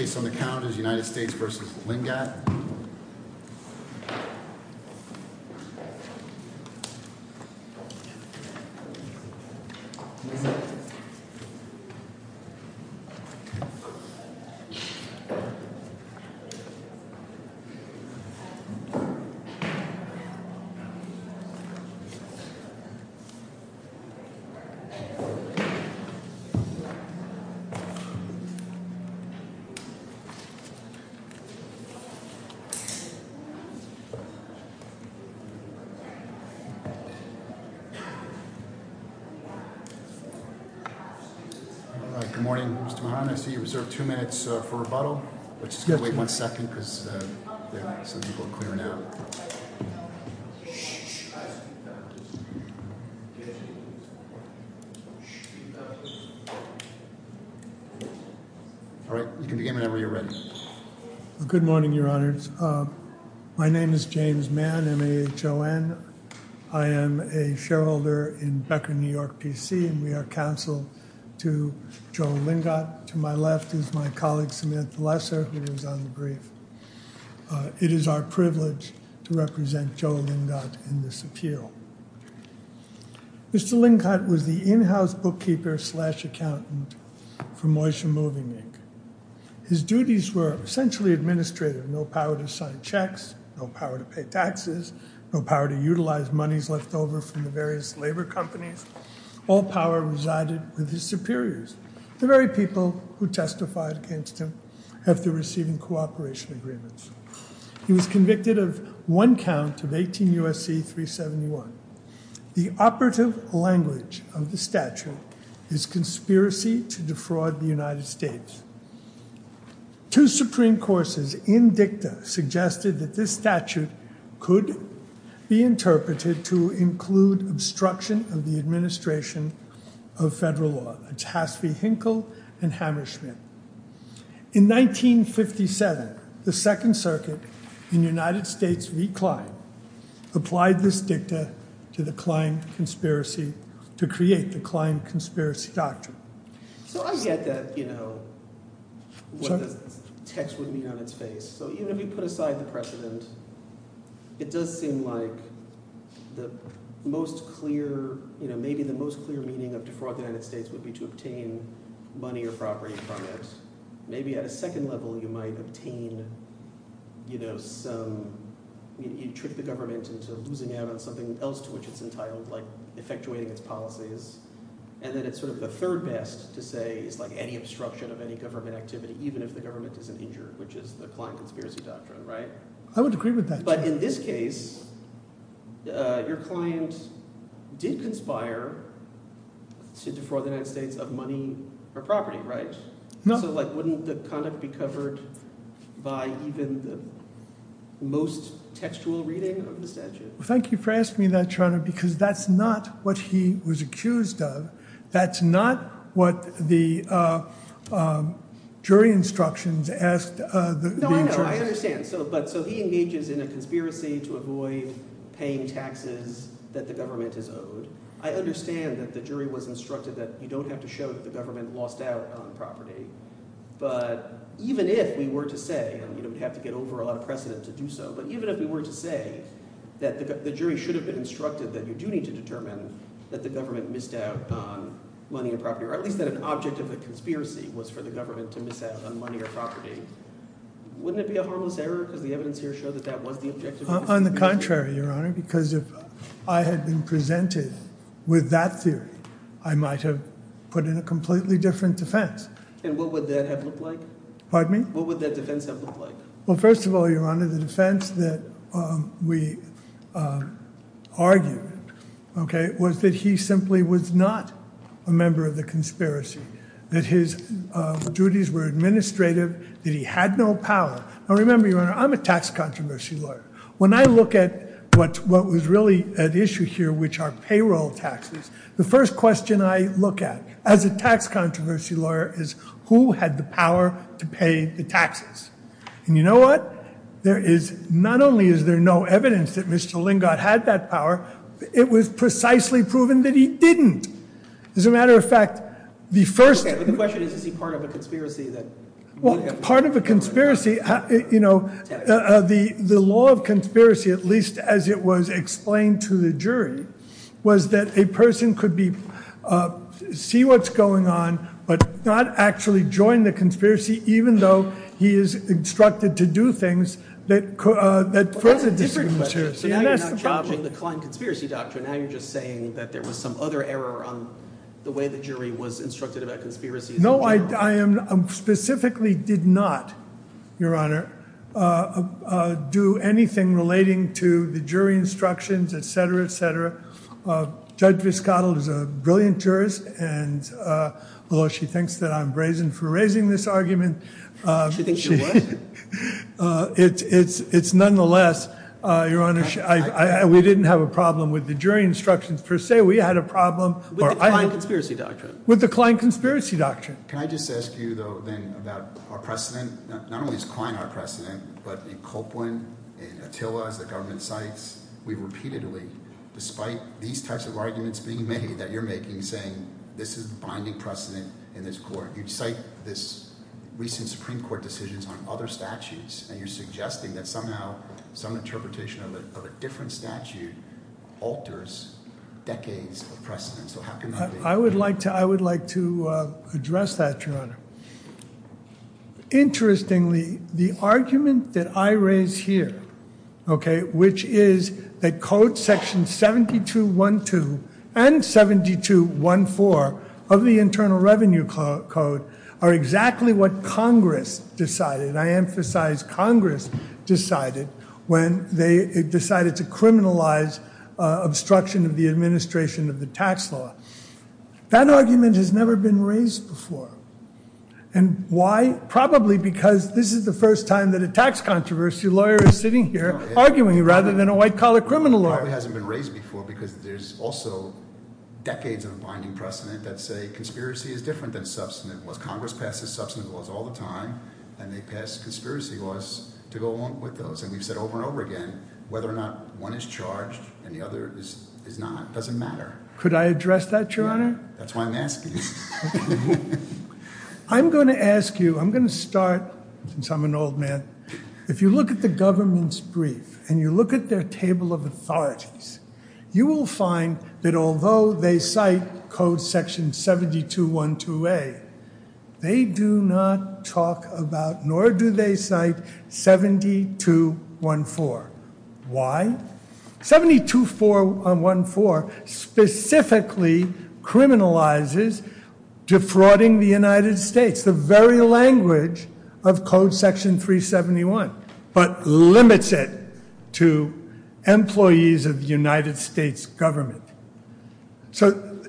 The case on the count is United States v. Lingat Good morning, Mr. Mohamed. I see you reserved two minutes for rebuttal. I'm just going to wait one second because some people are clearing out. All right, you can begin whenever you're ready. Good morning, Your Honors. My name is James Mann, M-A-H-O-N. I am a shareholder in Becker, New York, P.C., and we are counsel to Joe Lingat. To my left is my colleague, Samantha Lesser, who is on the brief. It is our privilege to represent Joe Lingat in this appeal. Mr. Lingat was the in-house bookkeeper slash accountant for Moyshe Moving Inc. His duties were essentially administrative, no power to sign checks, no power to pay taxes, no power to utilize monies left over from the various labor companies. All power resided with his superiors, the very people who testified against him after receiving cooperation agreements. He was convicted of one count of 18 U.S.C. 371. The operative language of the statute is conspiracy to defraud the United States. Two Supreme Courts in dicta suggested that this statute could be interpreted to include obstruction of the administration of federal law. It's Haas v. Hinkle and Hammer-Schmidt. In 1957, the Second Circuit in United States v. Klein applied this dicta to the Klein conspiracy to create the Klein Conspiracy Doctrine. So I get that what the text would mean on its face. So even if you put aside the precedent, it does seem like the most clear – maybe the most clear meaning of defraud the United States would be to obtain money or property from it. Maybe at a second level you might obtain some – you trick the government into losing out on something else to which it's entitled, like effectuating its policies. And then it's sort of the third best to say it's like any obstruction of any government activity, even if the government isn't injured, which is the Klein Conspiracy Doctrine, right? I would agree with that. But in this case, your client did conspire to defraud the United States of money or property, right? So like wouldn't the conduct be covered by even the most textual reading of the statute? Thank you for asking me that, Toronto, because that's not what he was accused of. That's not what the jury instructions asked the attorney. No, I know. I understand. So he engages in a conspiracy to avoid paying taxes that the government is owed. I understand that the jury was instructed that you don't have to show that the government lost out on property. But even if we were to say – and we don't The jury should have instructed that you do need to determine that the government missed out on money and property, or at least that an object of the conspiracy was for the government to miss out on money or property. Wouldn't it be a harmless error because the evidence here showed that that was the objective? On the contrary, Your Honor, because if I had been presented with that theory, I might have put in a completely different defense. And what would that have looked like? Pardon me? What would that defense have looked like? Well, first of all, Your Honor, the defense that we argued was that he simply was not a member of the conspiracy, that his duties were administrative, that he had no power. Now remember, Your Honor, I'm a tax controversy lawyer. When I look at what was really at issue here, which are payroll taxes, the first question I look at as a tax controversy lawyer is who had the power to pay the taxes? And you know what? There is – not only is there no evidence that Mr. Lingott had that power, it was precisely proven that he didn't. As a matter of fact, the first – Okay, but the question is, is he part of a conspiracy that – Well, part of a conspiracy – you know, the law of conspiracy, at least as it was explained to the jury, was that a person could be – see what's going on, but not actually join the conspiracy, even though he is instructed to do things that – Well, that's a different question. And that's the problem. So now you're not challenging the Klein Conspiracy Doctrine. Now you're just saying that there was some other error on the way the jury was instructed about conspiracies in general. I specifically did not, Your Honor, do anything relating to the jury instructions, et cetera, et cetera. Judge Viscato is a brilliant jurist, and although she thinks that I'm brazen for raising this argument – She thinks you're what? It's nonetheless, Your Honor, we didn't have a problem with the jury instructions per se. We had a problem – With the Klein Conspiracy Doctrine. With the Klein Conspiracy Doctrine. Can I just ask you, though, then about our precedent? Not only is Klein our precedent, but in Copeland, in Attila, as the government cites, we've repeatedly, despite these types of arguments being made that you're making, saying this is the binding precedent in this court. You cite this recent Supreme Court decisions on other statutes, and you're suggesting that somehow some interpretation of a different statute alters decades of precedent. So how can that be? I would like to address that, Your Honor. Interestingly, the argument that I raise here, okay, which is that Code Section 7212 and 7214 of the Internal Revenue Code are exactly what Congress decided. I emphasize Congress decided when they decided to criminalize obstruction of the administration of the tax law. That argument has never been raised before. And why? Probably because this is the first time that a tax controversy lawyer is sitting here arguing rather than a white-collar criminal lawyer. It probably hasn't been raised before because there's also decades of binding precedent that say Congress passes substantive laws all the time, and they pass conspiracy laws to go along with those. And we've said over and over again, whether or not one is charged and the other is not doesn't matter. Could I address that, Your Honor? That's why I'm asking you. I'm going to ask you, I'm going to start, since I'm an old man. If you look at the government's brief, and you look at their table of authorities, you will find that although they cite Code Section 7212A, they do not talk about, nor do they cite, 7214. Why? 7214 specifically criminalizes defrauding the United States, it's the very language of Code Section 371, but limits it to employees of the United States government. So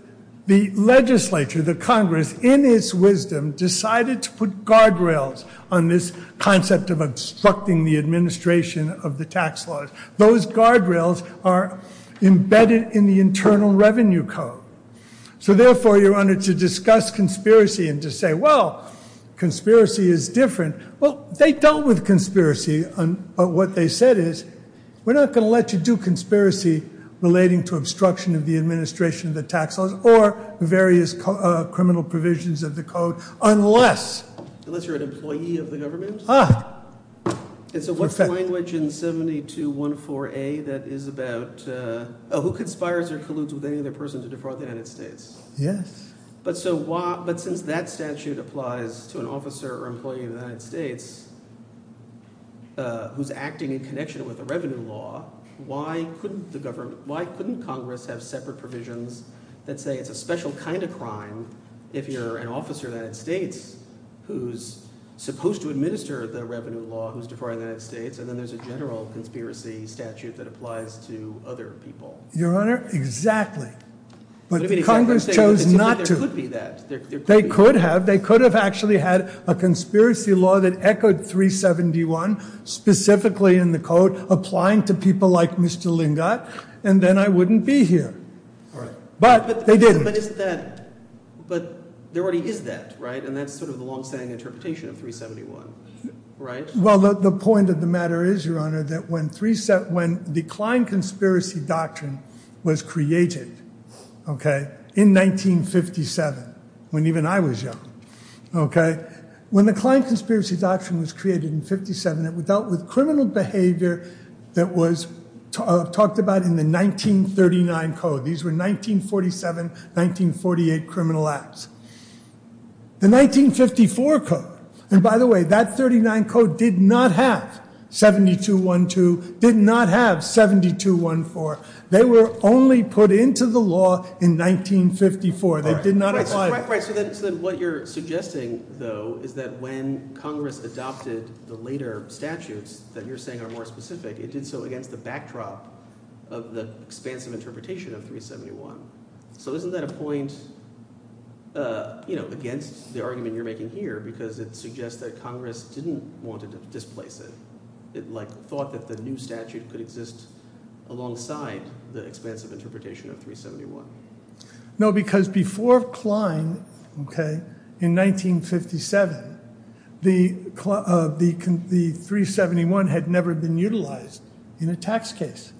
the legislature, the Congress, in its wisdom, decided to put guardrails on this concept of obstructing the administration of the tax laws. Those guardrails are embedded in the Internal Revenue Code. So therefore, Your Honor, to discuss conspiracy and to say, well, conspiracy is different, well, they dealt with conspiracy, but what they said is, we're not going to let you do conspiracy relating to obstruction of the administration of the tax laws or various criminal provisions of the code unless- Unless you're an employee of the government? Ah. And so what's the language in 7214A that is about, oh, who conspires or colludes with any other person to defraud the United States? Yes. But since that statute applies to an officer or employee of the United States who's acting in connection with the revenue law, why couldn't Congress have separate provisions that say it's a special kind of crime if you're an officer of the United States who's supposed to administer the revenue law who's defrauding the United States, and then there's a general conspiracy statute that applies to other people? Your Honor, exactly. But Congress chose not to. There could be that. They could have. They could have actually had a conspiracy law that echoed 371, specifically in the code, applying to people like Mr. Lingott, and then I wouldn't be here. But they didn't. But there already is that, right? And that's sort of the longstanding interpretation of 371, right? Well, the point of the matter is, Your Honor, that when the Klein Conspiracy Doctrine was created, okay, in 1957, when even I was young, okay, when the Klein Conspiracy Doctrine was created in 1957, it dealt with criminal behavior that was talked about in the 1939 code. These were 1947, 1948 criminal acts. The 1954 code, and by the way, that 39 code did not have 7212, did not have 7214. They were only put into the law in 1954. They did not apply. So what you're suggesting, though, is that when Congress adopted the later statutes that you're saying are more specific, it did so against the backdrop of the expansive interpretation of 371. So isn't that a point, you know, against the argument you're making here, because it suggests that Congress didn't want to displace it. It, like, thought that the new statute could exist alongside the expansive interpretation of 371. No, because before Klein, okay, in 1957, the 371 had never been utilized in a tax case.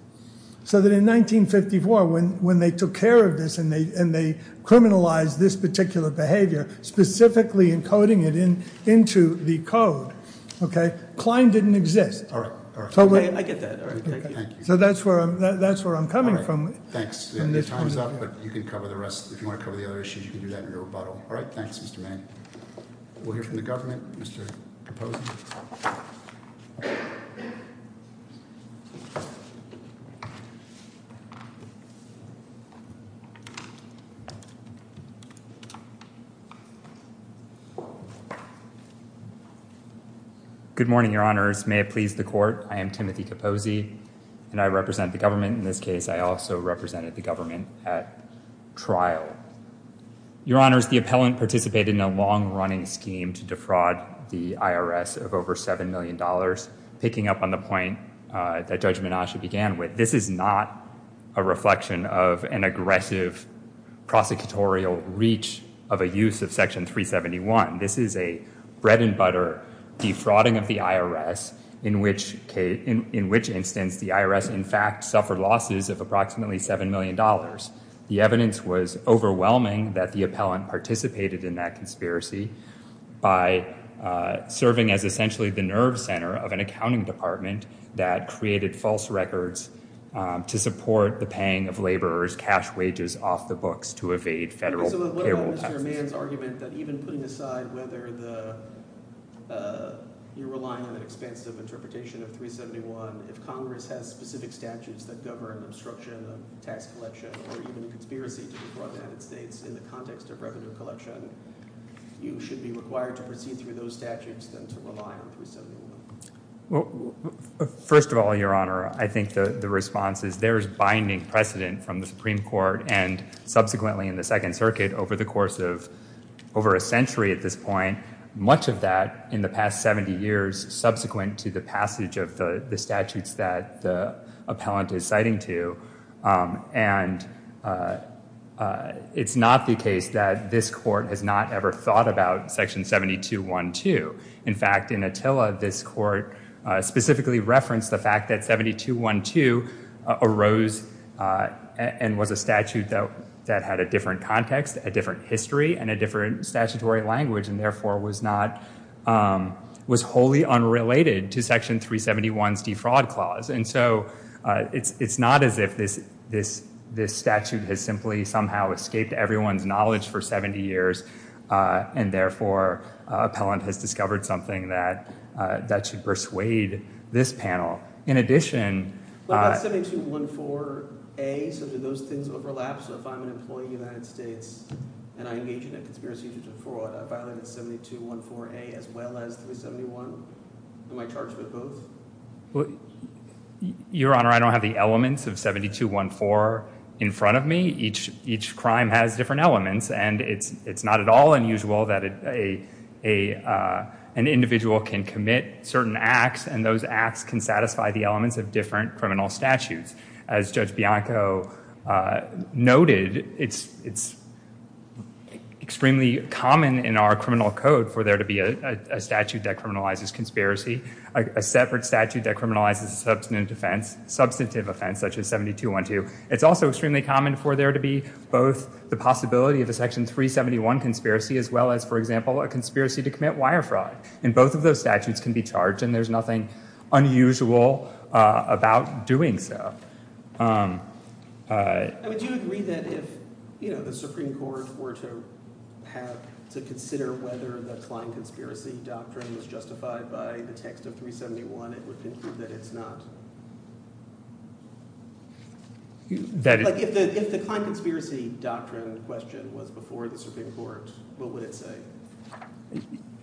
So that in 1954, when they took care of this and they criminalized this particular behavior, specifically encoding it into the code, okay, Klein didn't exist. All right. I get that. Thank you. So that's where I'm coming from. Thanks. Your time's up, but you can cover the rest. If you want to cover the other issues, you can do that in your rebuttal. All right. Thanks, Mr. Mann. We'll hear from the government. Mr. Capozzi. Good morning, Your Honors. May it please the Court, I am Timothy Capozzi, and I represent the government. In this case, I also represented the government at trial. Your Honors, the appellant participated in a long-running scheme to defraud the IRS of over $7 million, picking up on the point that Judge Menasche began with. This is not a reflection of an aggressive prosecutorial reach of a use of Section 371. This is a bread-and-butter defrauding of the IRS, in which instance the IRS, in fact, suffered losses of approximately $7 million. The evidence was overwhelming that the appellant participated in that conspiracy. By serving as essentially the nerve center of an accounting department that created false records to support the paying of laborers' cash wages off the books to evade federal payroll taxes. So what about Mr. Mann's argument that even putting aside whether you're relying on an expansive interpretation of 371, if Congress has specific statutes that govern obstruction of tax collection or even a conspiracy to defraud the United States in the context of revenue collection, you should be required to proceed through those statutes than to rely on 371? First of all, Your Honor, I think the response is there is binding precedent from the Supreme Court and subsequently in the Second Circuit over the course of over a century at this point, much of that in the past 70 years subsequent to the passage of the statutes that the appellant is citing to. And it's not the case that this court has not ever thought about Section 7212. In fact, in Attila, this court specifically referenced the fact that 7212 arose and was a statute that had a different context, a different history, and a different statutory language and therefore was wholly unrelated to Section 371's defraud clause. And so it's not as if this statute has simply somehow escaped everyone's knowledge for 70 years and therefore appellant has discovered something that should persuade this panel. In addition... What about 7214A? So do those things overlap? So if I'm an employee in the United States and I engage in a conspiracy to defraud, I violate 7214A as well as 371? Am I charged with both? Your Honor, I don't have the elements of 7214 in front of me. Each crime has different elements and it's not at all unusual that an individual can commit certain acts and those acts can satisfy the elements of different criminal statutes. As Judge Bianco noted, it's extremely common in our criminal code for there to be a statute that criminalizes conspiracy. A separate statute that criminalizes substantive offense such as 7212. It's also extremely common for there to be both the possibility of a Section 371 conspiracy as well as, for example, a conspiracy to commit wire fraud. And both of those statutes can be charged and there's nothing unusual about doing so. Do you agree that if the Supreme Court were to consider whether the Klein Conspiracy Doctrine was justified by the text of 371, it would conclude that it's not? If the Klein Conspiracy Doctrine question was before the Supreme Court, what would it say?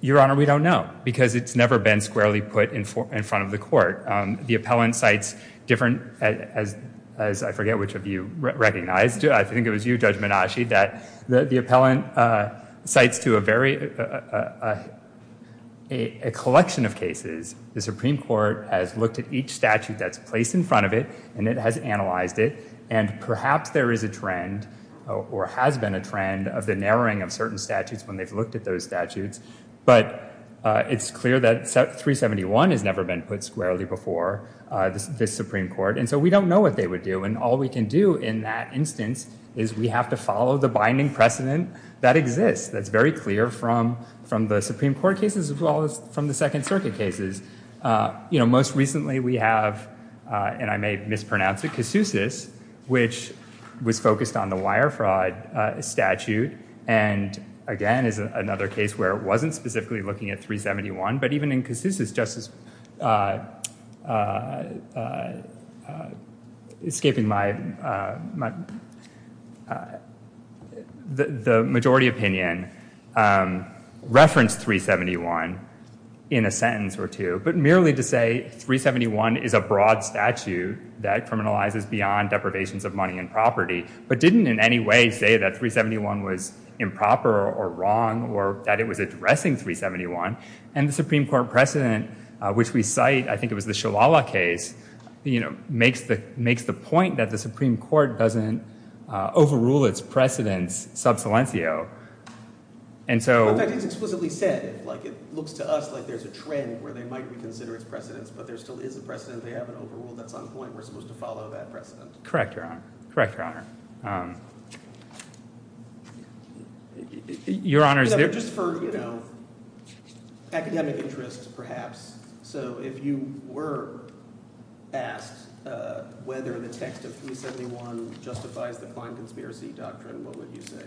Your Honor, we don't know because it's never been squarely put in front of the court. The appellant cites different, as I forget which of you recognized, I think it was you, Judge Menasci, that the appellant cites to a collection of cases. The Supreme Court has looked at each statute that's placed in front of it and it has analyzed it and perhaps there is a trend or has been a trend of the narrowing of certain statutes when they've looked at those statutes. But it's clear that 371 has never been put squarely before this Supreme Court and so we don't know what they would do and all we can do in that instance is we have to follow the binding precedent that exists, that's very clear from the Supreme Court cases as well as from the Second Circuit cases. You know, most recently we have, and I may mispronounce it, Casusus, which was focused on the wire fraud statute and again is another case where it wasn't specifically looking at 371, but even in Casusus, Justice... escaping my... the majority opinion, referenced 371 in a sentence or two, but merely to say 371 is a broad statute that criminalizes beyond deprivations of money and property but didn't in any way say that 371 was improper or wrong or that it was addressing 371 and the Supreme Court precedent, which we cite, I think it was the Shalala case, you know, makes the point that the Supreme Court doesn't overrule its precedents sub silencio and so... In fact, it's explicitly said, like it looks to us like there's a trend where they might reconsider its precedents but there still is a precedent they haven't overruled that's on point, we're supposed to follow that precedent. Correct, Your Honor, correct, Your Honor. Your Honor... Just for, you know, academic interest perhaps, so if you were asked whether the text of 371 justifies the fine conspiracy doctrine, what would you say?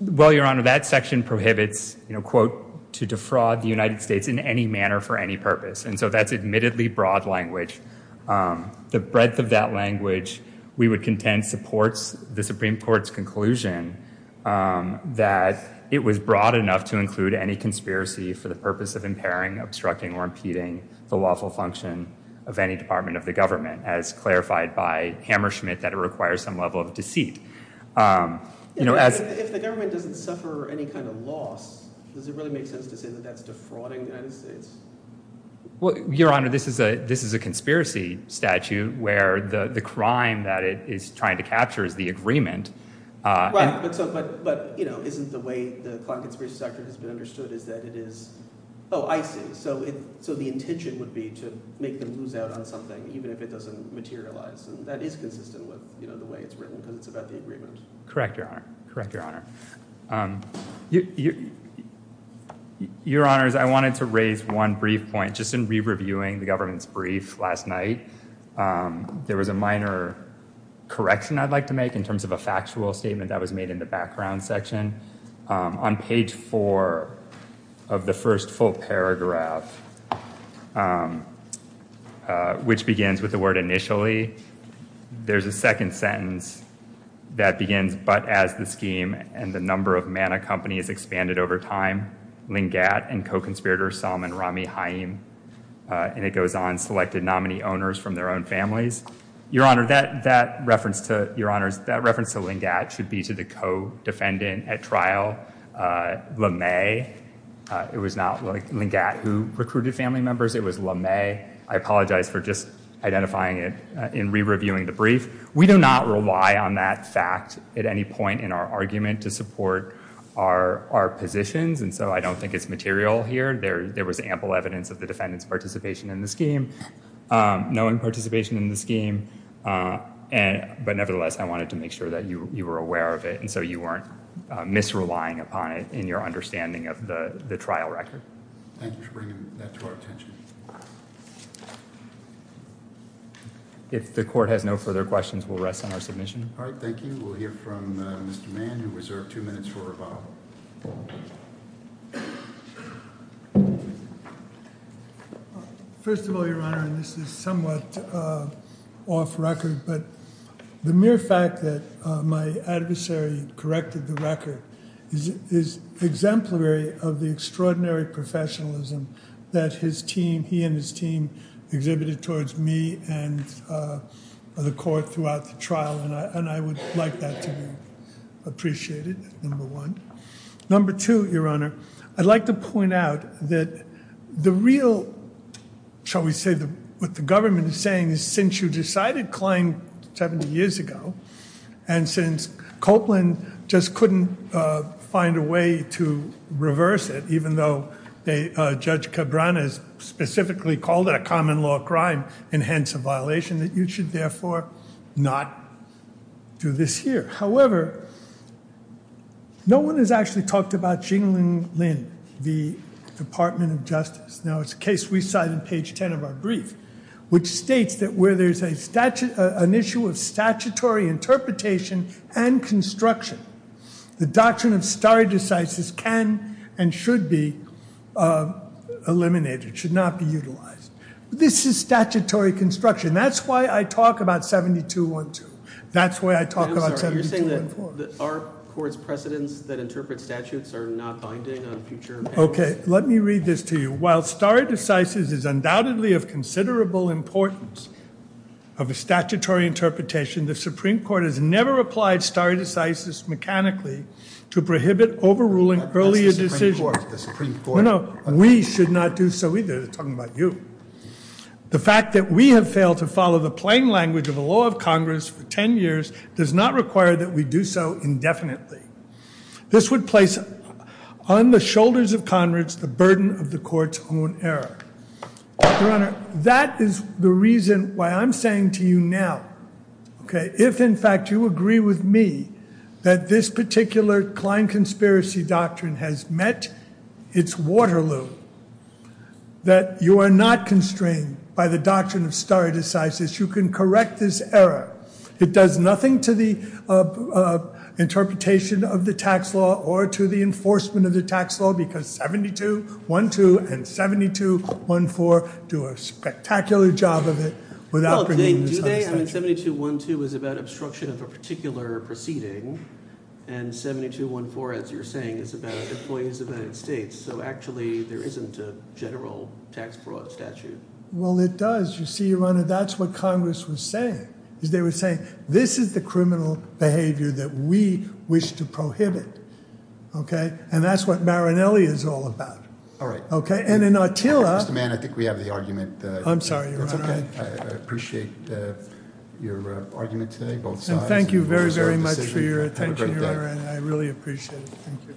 Well, Your Honor, that section prohibits, you know, quote, to defraud the United States in any manner for any purpose and so that's admittedly broad language. The breadth of that language, we would contend, supports the Supreme Court's conclusion that it was broad enough to include any conspiracy for the purpose of impairing, obstructing, or impeding the lawful function of any department of the government as clarified by Hammerschmidt that it requires some level of deceit. You know, as... If the government doesn't suffer any kind of loss, does it really make sense to say that that's defrauding the United States? Well, Your Honor, this is a conspiracy statute where the crime that it is trying to capture is the agreement. Right, but, you know, isn't the way the fine conspiracy doctrine has been understood is that it is... Oh, I see. So the intention would be to make them lose out on something even if it doesn't materialize and that is consistent with, you know, the way it's written because it's about the agreement. Correct, Your Honor. Correct, Your Honor. Your Honors, I wanted to raise one brief point. Just in re-reviewing the government's brief last night, there was a minor correction I'd like to make in terms of a factual statement that was made in the background section. On page four of the first full paragraph, which begins with the word initially, there's a second sentence that begins, but as the scheme and the number of Manna companies expanded over time, Lingat and co-conspirator Salman Rami Haim, and it goes on, selected nominee owners from their own families. Your Honor, that reference to Lingat should be to the co-defendant at trial, LeMay. It was not Lingat who recruited family members, it was LeMay. I apologize for just identifying it in re-reviewing the brief. We do not rely on that fact at any point in our argument to support our positions and so I don't think it's material here. There was ample evidence of the defendant's participation in the scheme, knowing participation in the scheme, but nevertheless I wanted to make sure that you were aware of it and so you weren't misrelying upon it in your understanding of the trial record. Thank you for bringing that to our attention. If the court has no further questions, we'll rest on our submission. All right, thank you. We'll hear from Mr. Mann and we reserve two minutes for rebuttal. First of all, Your Honor, and this is somewhat off record, but the mere fact that my adversary corrected the record is exemplary of the extraordinary professionalism that he and his team exhibited towards me and the court throughout the trial and I would like that to be appreciated, number one. Number two, Your Honor, I'd like to point out that the real, shall we say what the government is saying is since you decided Klein 70 years ago and since Copeland just couldn't find a way to reverse it even though Judge Cabrera specifically called it a common law crime and hence a violation that you should therefore not do this here. However, no one has actually talked about Jingling Lin, the Department of Justice. Now, it's a case we cite in page 10 of our brief which states that where there's an issue of statutory interpretation and construction, the doctrine of stare decisis can and should be eliminated, should not be utilized. This is statutory construction. That's why I talk about 7212. That's why I talk about 7214. You're saying that our court's precedents that interpret statutes are not binding on future powers? Okay. Let me read this to you. While stare decisis is undoubtedly of considerable importance of a statutory interpretation, the Supreme Court has never applied stare decisis mechanically to prohibit overruling earlier decisions. That's the Supreme Court. No, no. We should not do so either. They're talking about you. The fact that we have failed to follow the plain language of the law of Congress for 10 years does not require that we do so indefinitely. This would place on the shoulders of Congress the burden of the court's own error. Your Honor, that is the reason why I'm saying to you now, okay, if in fact you agree with me that this particular Klein conspiracy doctrine has met its water loop, that you are not constrained by the doctrine of stare decisis, you can correct this error. It does nothing to the interpretation of the tax law or to the enforcement of the tax law because 7212 and 7214 do a spectacular job of it without bringing this up. Well, do they? I mean, 7212 is about obstruction of a particular proceeding, and 7214, as you're saying, is about employees of United States. So actually there isn't a general tax fraud statute. Well, it does. You see, Your Honor, that's what Congress was saying. They were saying this is the criminal behavior that we wish to prohibit, okay? And that's what Marinelli is all about. All right. Okay, and then Attila... Mr. Mann, I think we have the argument. I'm sorry, Your Honor. That's okay. I appreciate your argument today, both sides. And thank you very, very much for your attention, Your Honor, and I really appreciate it.